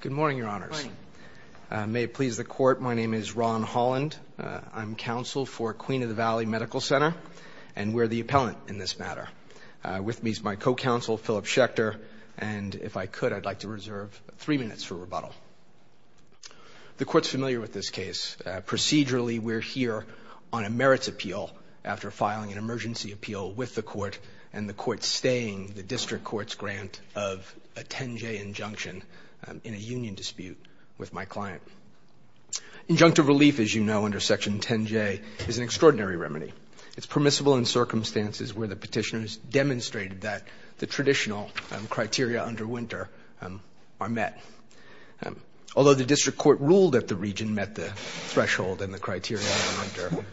Good morning, Your Honors. May it please the Court, my name is Ron Holland. I'm counsel for Queen of the Valley Medical Center, and we're the appellant in this matter. With me is my co-counsel, Philip Schechter, and if I could, I'd like to reserve three minutes for rebuttal. The Court's familiar with this case. Procedurally, we're here on a merits appeal after filing an emergency appeal with the Court, and the Court's staying the district court's grant of a 10J injunction in a union dispute with my client. Injunctive relief, as you know, under Section 10J is an extraordinary remedy. It's permissible in circumstances where the petitioners demonstrated that the traditional criteria under winter are met. Although the district court ruled that the region met the threshold and the criteria under winter,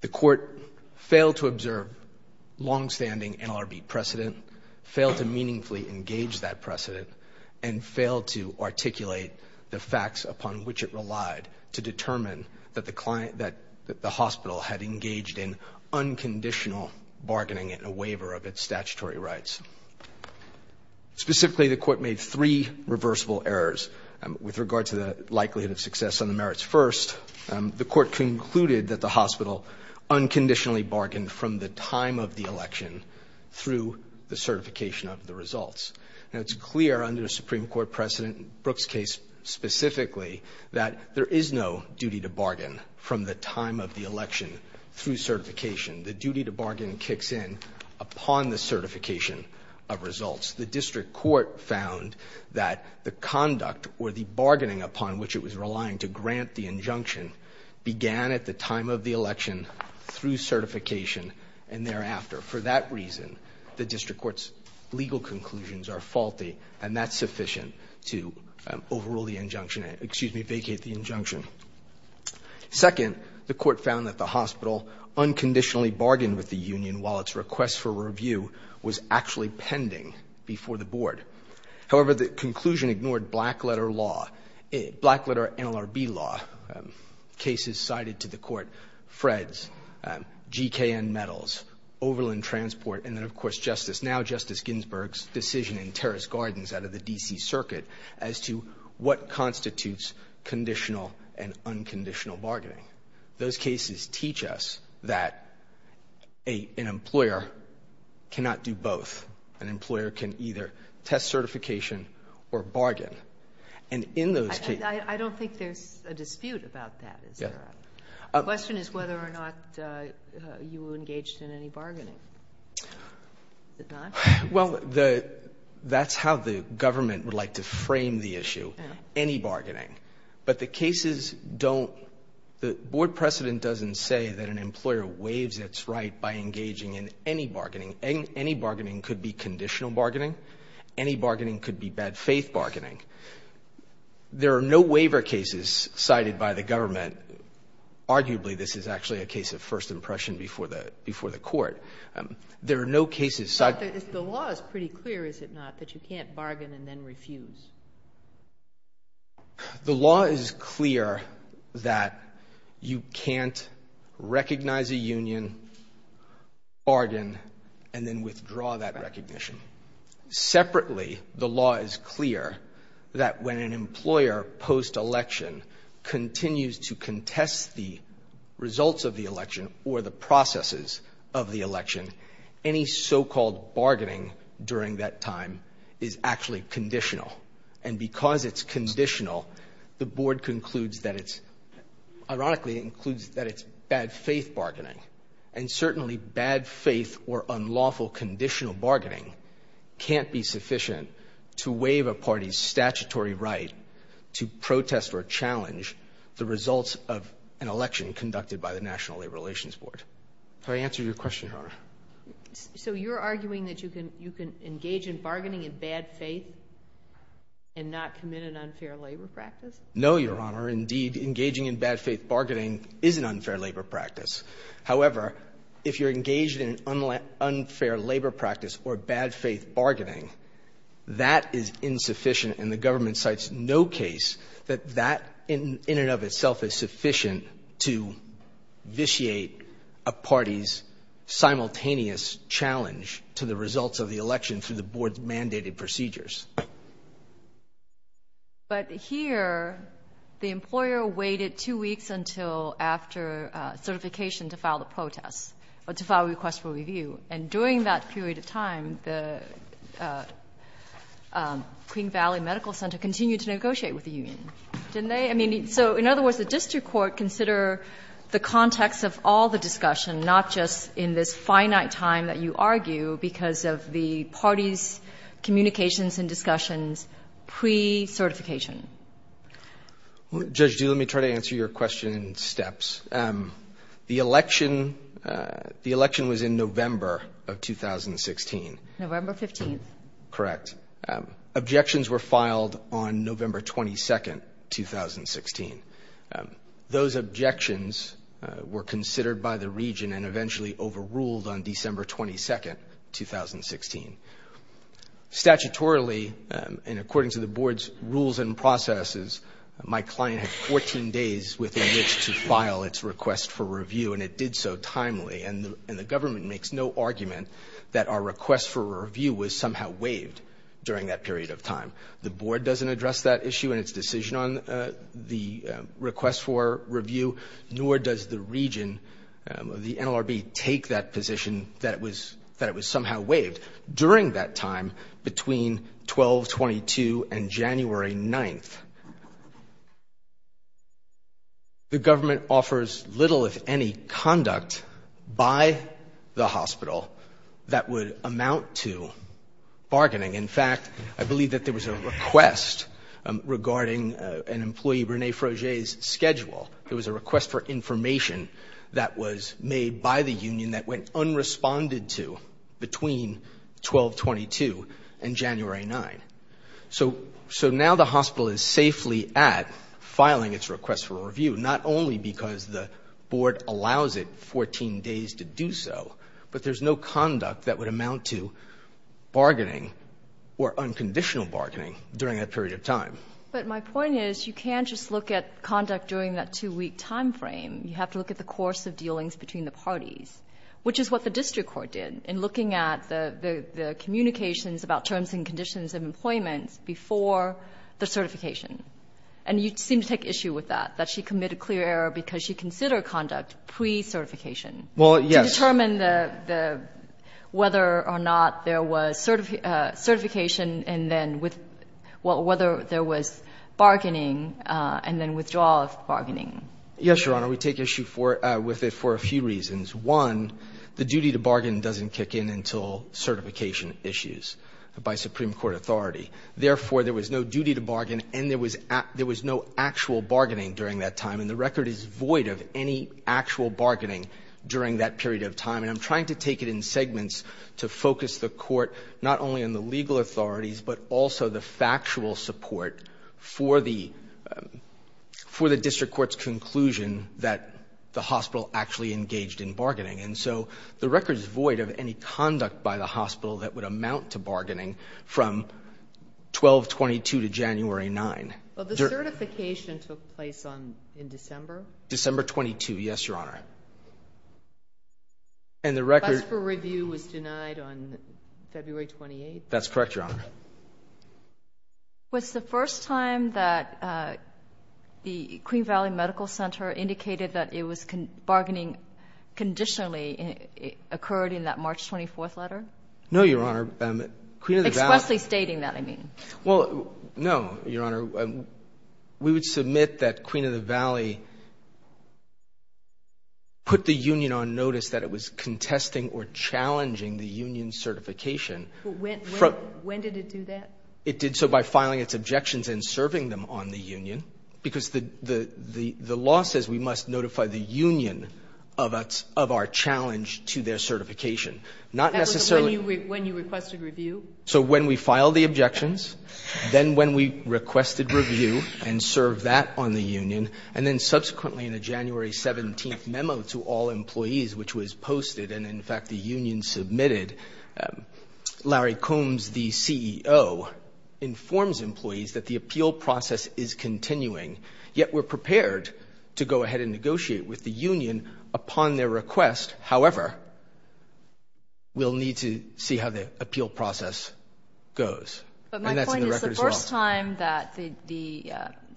the Court failed to observe longstanding NLRB precedent, failed to meaningfully engage that precedent, and failed to articulate the facts upon which it relied to determine that the hospital had engaged in unconditional bargaining in a waiver of its statutory rights. Specifically, the Court made three reversible errors. With regard to the likelihood of success on the merits first, the Court concluded that the hospital unconditionally bargained from the time of the election through the certification of the results. Now, it's clear under a Supreme Court precedent, Brooke's case specifically, that there is no duty to bargain from the time of the election through certification. The duty to bargain kicks in upon the certification of results. The district court found that the conduct or the bargaining upon which it was relying to grant the injunction began at the time of the election through certification and thereafter. For that reason, the district court's legal conclusions are faulty, and that's sufficient to overrule the injunction and, excuse me, vacate the injunction. Second, the Court found that the hospital unconditionally bargained with the union while its request for review was actually pending before the Board. However, the conclusion ignored black-letter law, black-letter NLRB law, cases cited to the Court, Fred's, GKN Metals, Overland Transport, and then, of course, Justice Ginsburg's decision in Terrace Gardens out of the D.C. Circuit as to what constitutes conditional and unconditional bargaining. Those cases teach us that an employer cannot do both. An employer can either test certification or bargain. And in those cases ---- Sotomayor, I don't think there's a dispute about that. The question is whether or not you engaged in any bargaining. Is it not? Well, the ---- that's how the government would like to frame the issue, any bargaining. But the cases don't ---- the Board precedent doesn't say that an employer waives its right by engaging in any bargaining. Any bargaining could be conditional bargaining. Any bargaining could be bad-faith bargaining. There are no waiver cases cited by the government. Arguably, this is actually a case of first impression before the Court. There are no cases cited ---- But the law is pretty clear, is it not, that you can't bargain and then refuse? The law is clear that you can't recognize a union, bargain, and then withdraw that recognition. Separately, the law is clear that when an employer post-election continues to contest the results of the election or the processes of the election, any so-called bargaining during that time is actually conditional. And because it's conditional, the Board concludes that it's ---- ironically, it includes that it's bad-faith bargaining. And certainly, bad-faith or unlawful conditional bargaining can't be sufficient to waive a party's statutory right to protest or challenge the results of an election conducted by the National Labor Relations Board. Can I answer your question, Your Honor? So you're arguing that you can engage in bargaining in bad faith and not commit an unfair labor practice? No, Your Honor. Indeed, engaging in bad-faith bargaining is an unfair labor practice. However, if you're engaged in an unfair labor practice or bad-faith bargaining, that is insufficient, and the government cites no case that that in and of itself is sufficient to vitiate a party's simultaneous challenge to the results of the election through the Board's mandated procedures. But here, the employer waited two weeks until after certification to file the protest or to file a request for review. And during that period of time, the Queen Valley Medical Center continued to negotiate with the union. Didn't they? I mean, so in other words, the district court consider the context of all the discussion, not just in this discussion's pre-certification. Judge, do let me try to answer your question in steps. The election was in November of 2016. November 15th. Correct. Objections were filed on November 22nd, 2016. Those objections were considered by the region and eventually overruled on December 22nd, 2016. Statutorily, and according to the Board's rules and processes, my client had 14 days within which to file its request for review, and it did so timely. And the government makes no argument that our request for review was somehow waived during that period of time. The Board doesn't address that issue in its decision on the request for review, nor does the region, the NLRB, take that position that it was somehow waived during that time between 12-22 and January 9th. The government offers little, if any, conduct by the hospital that would amount to bargaining. In fact, I believe that there was a request regarding an employee, Rene Froger's schedule. There was a request for information that was made by the union that went unresponded to between 12-22 and January 9th. So now the hospital is safely at filing its request for review, not only because the Board allows it 14 days to do so, but there's no conduct that would amount to bargaining or unconditional bargaining during that period of time. But my point is, you can't just look at conduct during that two-week time frame. You have to look at the course of dealings between the parties, which is what the district court did in looking at the communications about terms and conditions of employment before the certification. And you seem to take issue with that, that she committed clear error because she considered conduct pre-certification to determine the whether or not there was certification and then whether there was bargaining and then withdrawal of bargaining. Yes, Your Honor. We take issue with it for a few reasons. One, the duty to bargain doesn't kick in until certification issues by Supreme Court authority. Therefore, there was no duty to bargain and there was no actual bargaining during that time. And the record is void of any actual bargaining during that period of time. And I'm trying to take it in segments to focus the Court not only on the legal authorities, but also the factual support for the district court's conclusion that the hospital actually engaged in bargaining. And so the record is void of any conduct by the hospital that would amount to bargaining from 12-22 to January 9. Well, the certification took place in December? December 22, yes, Your Honor. Bus for review was denied on February 28? That's correct, Your Honor. Was the first time that the Queen Valley Medical Center indicated that it was bargaining conditionally occurred in that March 24 letter? No, Your Honor. Queen of the Valley Expressly stating that, I mean. Well, no, Your Honor. We would submit that Queen of the Valley put the union on notice that it was contesting or challenging the union's certification When did it do that? It did so by filing its objections and serving them on the union. Because the law says we must notify the union of our challenge to their certification. That was when you requested review? So when we filed the objections, then when we requested review and served that on the union, and then subsequently in a January 17 memo to all employees, which was posted, and in fact the union submitted, Larry Combs, the CEO, informs employees that the appeal process is continuing, yet we're prepared to go ahead and negotiate with the union upon their request. However, we'll need to see how the appeal process goes. But my point is the first time that the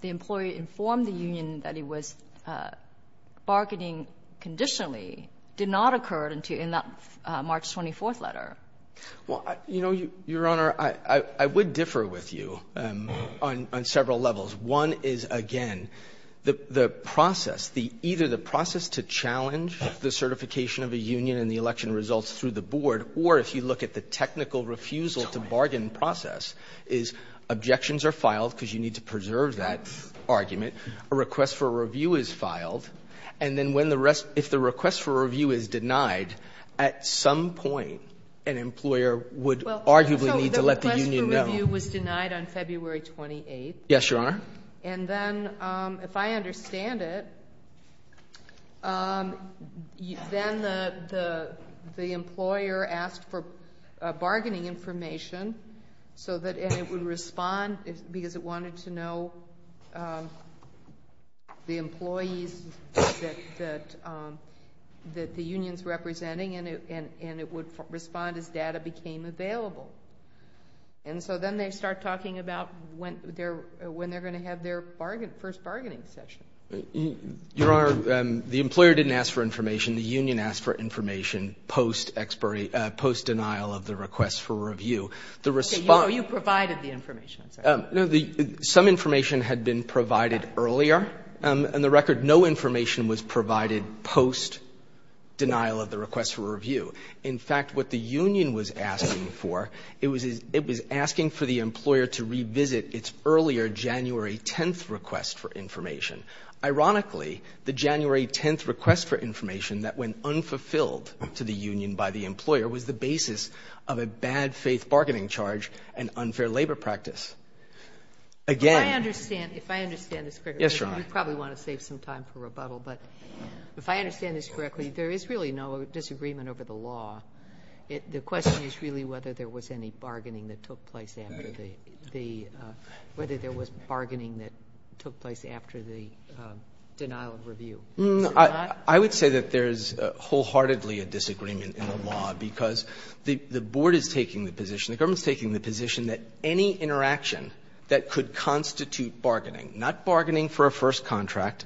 employee informed the union that he was bargaining conditionally did not occur in that March 24th letter. Well, you know, Your Honor, I would differ with you on several levels. One is, again, the process, either the process to challenge the certification of a union and the election results through the board, or if you look at the technical refusal to bargain process, is objections are filed because you need to preserve that argument. A request for review is filed. And then if the request for review is denied, at some point an employer would arguably need to let the union know. So the request for review was denied on February 28th. Yes, Your Honor. And then, if I understand it, then the employer asked for bargaining information and it would respond because it wanted to know the employees that the union's representing and it would respond as data became available. And so then they start talking about when they're going to have their first bargaining session. Your Honor, the employer didn't ask for information. You provided the information. Some information had been provided earlier. On the record, no information was provided post-denial of the request for review. In fact, what the union was asking for, it was asking for the employer to revisit its earlier January 10th request for information. Ironically, the January 10th request for information that went unfulfilled to the union by the employer was the basis of a bad-faith bargaining charge and unfair labor practice. If I understand this correctly, you probably want to save some time for rebuttal, but if I understand this correctly, there is really no disagreement over the law. The question is really whether there was any bargaining that took place after the denial of review. I would say that there is wholeheartedly a disagreement in the law, because the Board is taking the position, the government is taking the position that any interaction that could constitute bargaining, not bargaining for a first contract,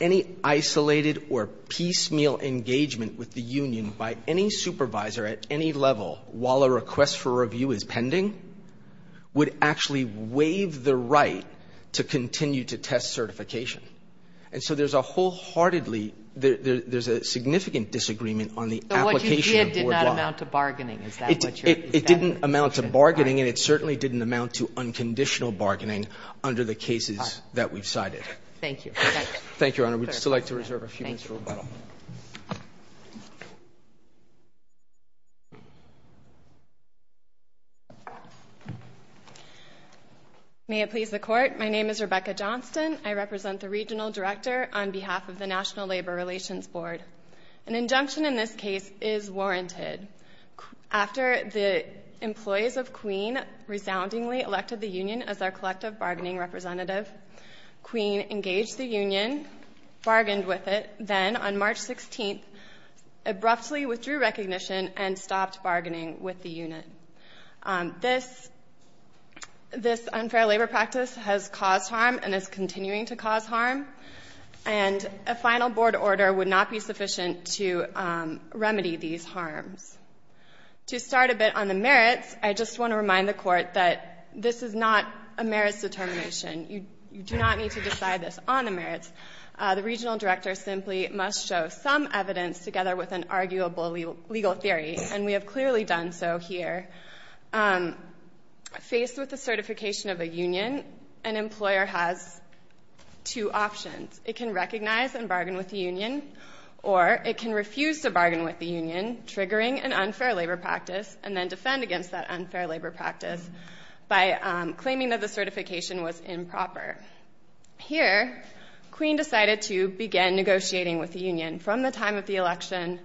any isolated or piecemeal engagement with the union by any supervisor at any level while a request for review is pending would actually waive the right to continue to test certification. And so there's a wholeheartedly there's a significant disagreement on the application of Board law. But what you did did not amount to bargaining. It didn't amount to bargaining and it certainly didn't amount to unconditional bargaining under the cases that we've cited. Thank you. Thank you, Your Honor. We'd still like to reserve a few minutes for rebuttal. May it please the Court. My name is Rebecca Johnston. I represent the Regional Director on behalf of the National Labor Relations Board. An injunction in this case is warranted. After the employees of Queen resoundingly elected the union as our collective bargaining representative, Queen engaged the union, bargained with it, then on March 16th abruptly withdrew recognition and stopped bargaining with the unit. This unfair labor practice has caused harm and is continuing to cause harm. And a final Board order would not be sufficient to remedy these harms. To start a bit on the merits, I just want to remind the Court that this is not a merits determination. You do not need to decide this on the merits. The Regional Director simply must show some evidence together with an arguable legal theory and we have clearly done so here. Faced with the certification of a union, an employer has two options. It can recognize and bargain with the union or it can refuse to bargain with the union, triggering an unfair labor practice and then defend against that unfair labor practice by claiming that the certification was improper. Here, Queen decided to begin negotiating with the union from the time of the election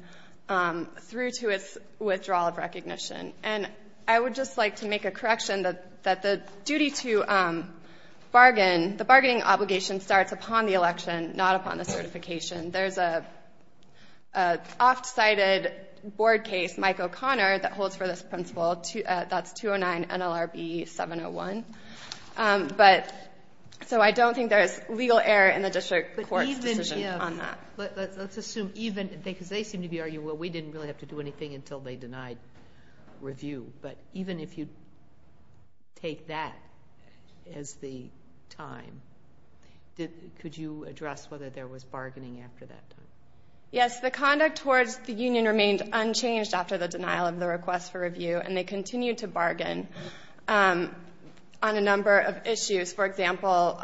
through to its withdrawal of recognition. And I would just like to make a correction that the duty to bargain, the bargaining obligation starts upon the election, not upon the certification. There's an oft-cited Board case, Mike O'Connor, that holds for this principle. That's 209 NLRB 701. So I don't think there's legal error in the District Court's decision on that. Let's assume even, because they seem to be arguing, well, we didn't really have to do anything until they denied review. But even if you take that as the time, could you address whether there was bargaining after that time? Yes, the conduct towards the union remained unchanged after the denial of the request for review and they continued to bargain on a number of issues. For example,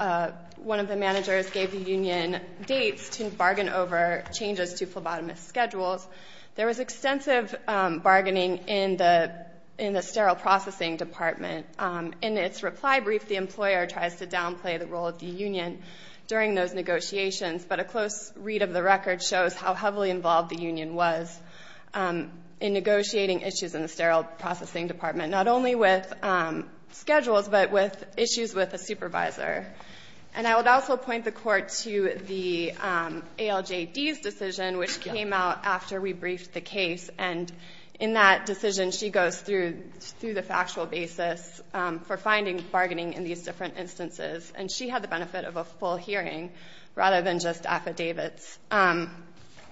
one of the managers gave the union dates to bargain over changes to phlebotomist schedules. There was extensive bargaining in the sterile processing department. In its reply brief, the employer tries to downplay the role of the union during those negotiations, but a close read of the record shows how heavily involved the union was in negotiating issues in the sterile processing department, not only with schedules, but with issues with a supervisor. And I would also point the Court to the ALJD's decision, which came out after we briefed the case. And in that decision, she goes through the factual basis for finding bargaining in these different instances. And she had the benefit of a full hearing rather than just affidavits.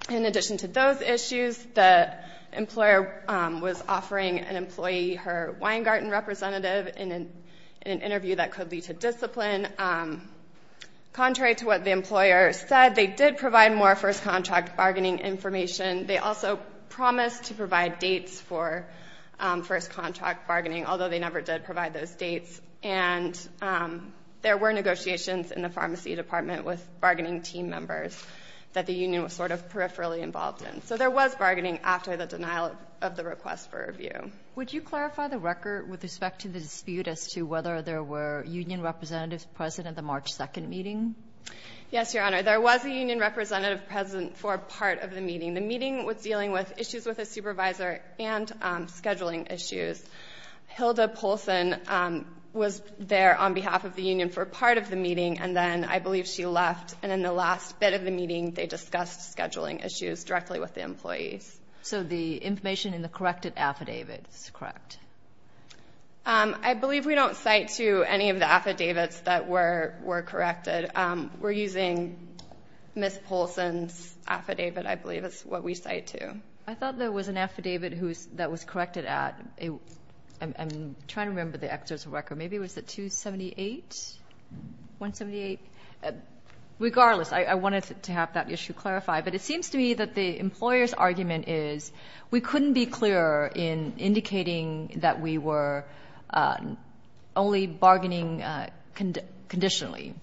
In addition to those issues, the employer was offering an employee her Weingarten representative in an interview that could lead to discipline. Contrary to what the employer said, they did provide more first contract bargaining information. They also promised to provide dates for first contract bargaining, although they never did provide those dates. And there were negotiations in the pharmacy department with bargaining team members that the union was sort of peripherally involved in. So there was bargaining after the denial of the request for review. Would you clarify the record with respect to the dispute as to whether there were union representatives present at the March 2nd meeting? Yes, Your Honor. There was a union representative present for part of the meeting. The meeting was dealing with issues with a supervisor and scheduling issues. Hilda Polson was there on behalf of the union for part of the meeting, and then I believe she left. And in the last bit of the meeting, they discussed scheduling issues directly with the employees. So the information in the corrected affidavit is correct. I believe we don't cite to any of the affidavits that were corrected. We're using Ms. Polson's affidavit. I believe it's what we cite to. I thought there was an affidavit that was corrected at I'm trying to remember the exorbitant record. Maybe it was at 278? 178? Regardless, I wanted to have that issue clarified, but it seems to me that the employer's argument is we couldn't be clearer in indicating that we were only bargaining conditionally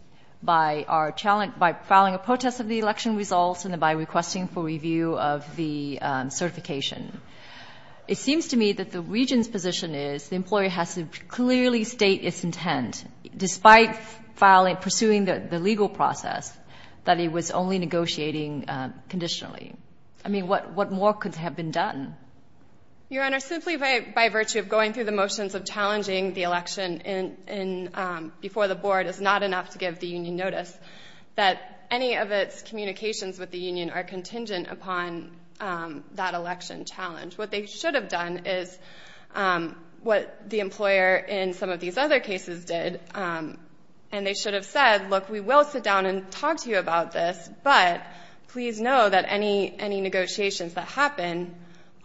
by filing a protest of the election results and by requesting for review of the certification. It seems to me that the region's position is the employer has to clearly state its intent, despite pursuing the legal process, that it was only negotiating conditionally. What more could have been done? Your Honor, simply by virtue of going through the motions of challenging the election before the board is not enough to give the union notice that any of its communications with the union are contingent upon that election challenge. What they should have done is what the employer in some of these other cases did and they should have said, look, we will sit down and talk to you about this, but please know that any negotiations that happen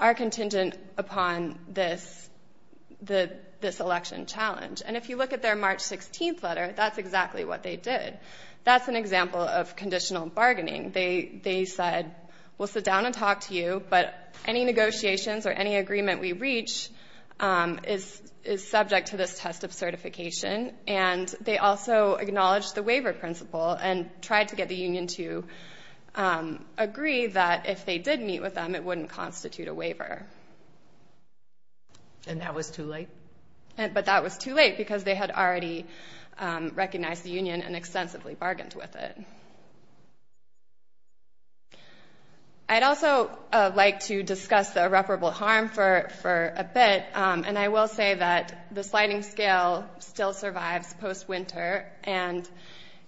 are contingent upon this election challenge. And if you look at their March 16th letter, that's exactly what they did. That's an example of conditional bargaining. They said we'll sit down and talk to you, but any negotiations or any agreement we reach is subject to this test of certification and they also acknowledged the waiver principle and tried to get the union to agree that if they did meet with them, it wouldn't constitute a waiver. And that was too late? But that was too late because they had already recognized the union and extensively bargained with it. I'd also like to discuss the irreparable harm for a bit and I will say that the sliding scale still survives post-winter and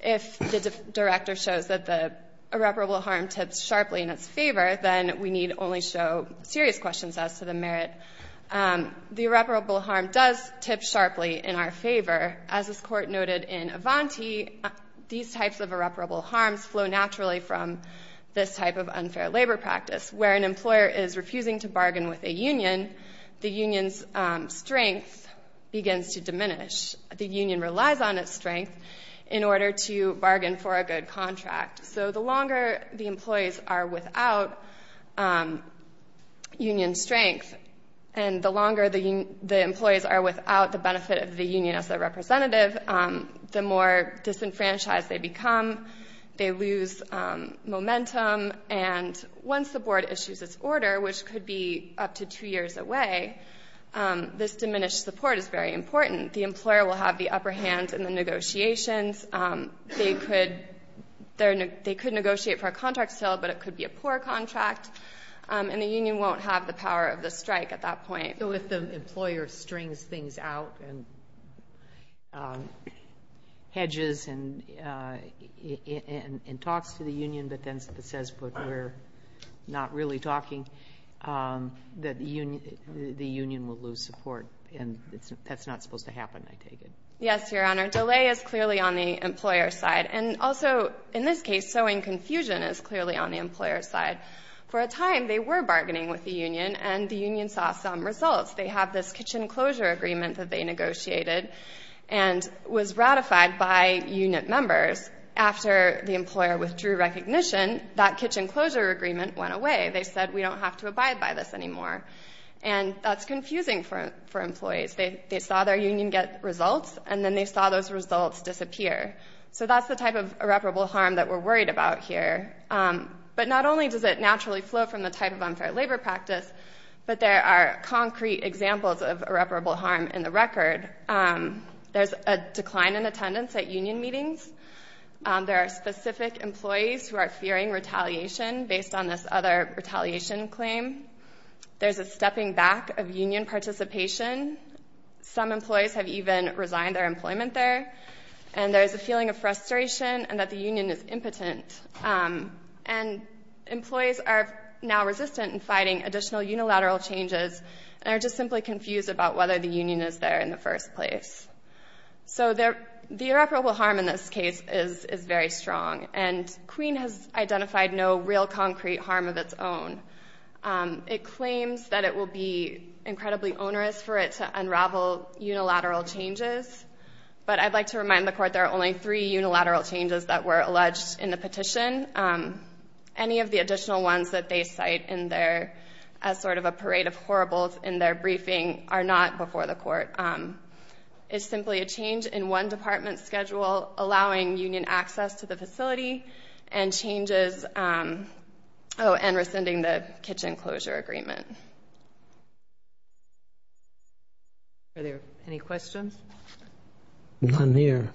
if the director shows that the irreparable harm tips sharply in its favor, then we need only show serious questions as to the merit. The irreparable harm does tip sharply in our favor. As this court noted in Avanti, these types of irreparable harms flow naturally from this type of unfair labor practice where an employer is refusing to bargain with a union, the union's strength begins to diminish. The union relies on its strength in order to bargain for a good contract. So the longer the employees are without union strength and the longer the employees are without the benefit of the union as a representative, the more disenfranchised they become. They lose momentum and once the board issues its order, which could be up to two years away, this diminished support is very difficult to maintain. The union has a lot of power in the hands of the negotiations. They could negotiate for a contract sale, but it could be a poor contract and the union won't have the power of the strike at that point. So if the employer strings things out and hedges and talks to the union but then says, we're not really talking, the union will lose support. And that's not supposed to happen, I take it. Yes, Your Honor. Delay is clearly on the employer's side. And also in this case, sowing confusion is clearly on the employer's side. For a time, they were bargaining with the union and the union saw some results. They have this kitchen closure agreement that they negotiated and was ratified by union members. After the employer withdrew recognition, that kitchen closure agreement went away. They said, we don't have to abide by this anymore. That's confusing for employees. They saw their union get results and then they saw those results disappear. So that's the type of irreparable harm that we're worried about here. But not only does it naturally flow from the type of unfair labor practice, but there are concrete examples of irreparable harm in the record. There's a decline in attendance at union meetings. There are specific employees who are fearing retaliation based on this other retaliation claim. There's a stepping back of union participation. Some employees have even resigned their employment there. And there's a feeling of frustration and that the union is impotent. Employees are now resistant in fighting additional unilateral changes and are just simply confused about whether the union is there in the first place. The irreparable harm in this case is very strong. Queen has identified no real concrete harm of its own. It claims that it will be incredibly onerous for it to unravel unilateral changes. But I'd like to remind the Court there are only three unilateral changes that were alleged in the petition. Any of the additional ones that they cite as sort of a parade of horribles in their briefing are not before the Court. It's simply a change in one of the unilateral changes. It's a change in the exemption of union access to the facility and changes and rescinding the kitchen closure agreement. Are there any questions? None here.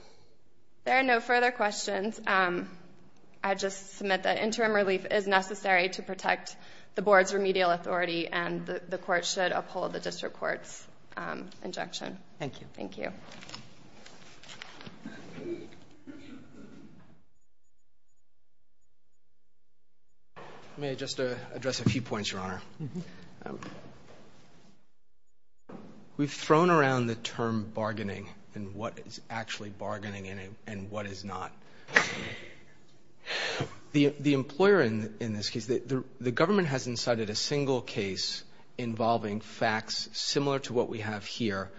There are no further questions. I'd just submit that interim relief is necessary to protect the Board's remedial authority and the Court should uphold the District Court's injection. Thank you. May I just address a few points, Your Honor? We've thrown around the term bargaining and what is actually bargaining and what is not. The employer in this case, the government hasn't cited a single case involving facts similar to what we have here,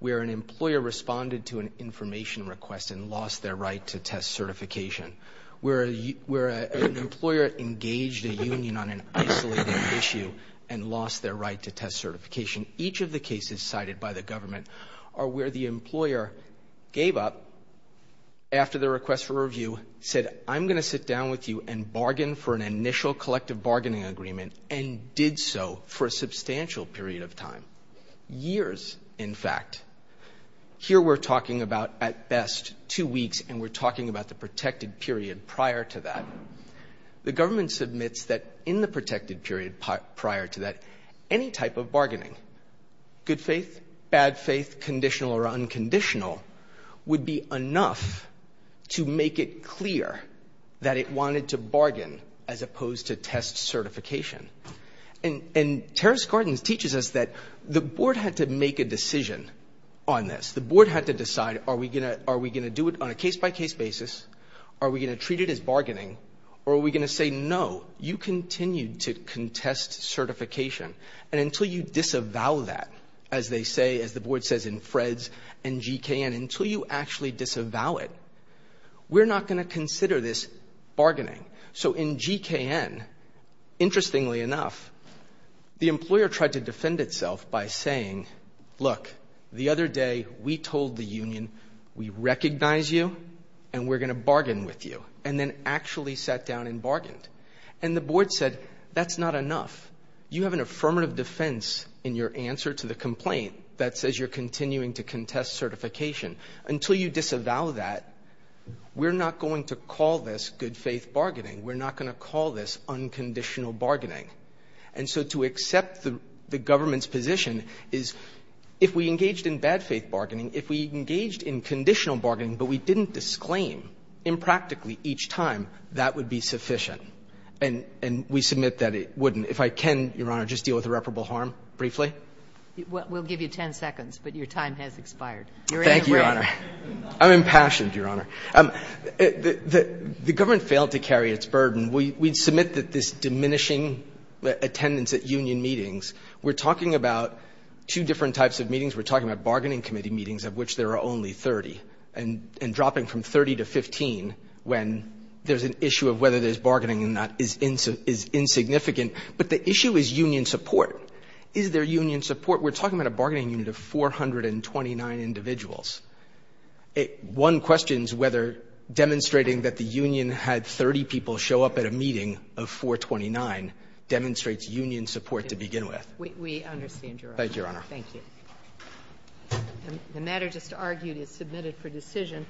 where an employer responded to an information request and lost their right to test certification, where an employer engaged a union on an isolated issue and lost their right to test certification. Each of the cases cited by the government are where the employer gave up after the request for review, said, I'm going to sit down with you and bargain for an initial collective bargaining agreement and did so for a substantial period of time, years in fact. Here we're talking about, at best, two weeks and we're talking about the protected period prior to that. The government submits that in the protected period prior to that any type of bargaining, good faith, bad faith, conditional or unconditional, would be enough to make it clear that it wanted to bargain as opposed to test certification. And Terrace Gardens teaches us that the board had to make a decision on this. The board had to decide, are we going to do it on a case-by-case basis? Are we going to treat it as bargaining? Or are we going to say, no, you continue to contest certification and until you disavow that, as they say, as the board says in FREDS and GKN, until you actually disavow it, we're not going to consider this GKN. Interestingly enough, the employer tried to defend itself by saying, look, the other day we told the union, we recognize you and we're going to bargain with you. And then actually sat down and bargained. And the board said, that's not enough. You have an affirmative defense in your answer to the complaint that says you're continuing to contest certification. Until you disavow that, we're not going to call this unconditional bargaining. And so to accept the government's position is, if we engaged in bad faith bargaining, if we engaged in conditional bargaining but we didn't disclaim impractically each time, that would be sufficient. And we submit that it wouldn't. If I can, Your Honor, just deal with irreparable harm briefly? We'll give you 10 seconds, but your time has expired. You're in the red. Thank you, Your Honor. I'm impassioned, Your Honor. The government failed to carry its burden. We submit that this diminishing attendance at union meetings, we're talking about two different types of meetings. We're talking about bargaining committee meetings, of which there are only 30, and dropping from 30 to 15 when there's an issue of whether there's bargaining and that is insignificant. But the issue is union support. Is there union support? We're talking about a bargaining unit of 429 individuals. One questions whether demonstrating that the union had 30 people show up at a meeting of 429 demonstrates union support to begin with. We understand, Your Honor. Thank you, Your Honor. Thank you. The matter just argued is submitted for decision.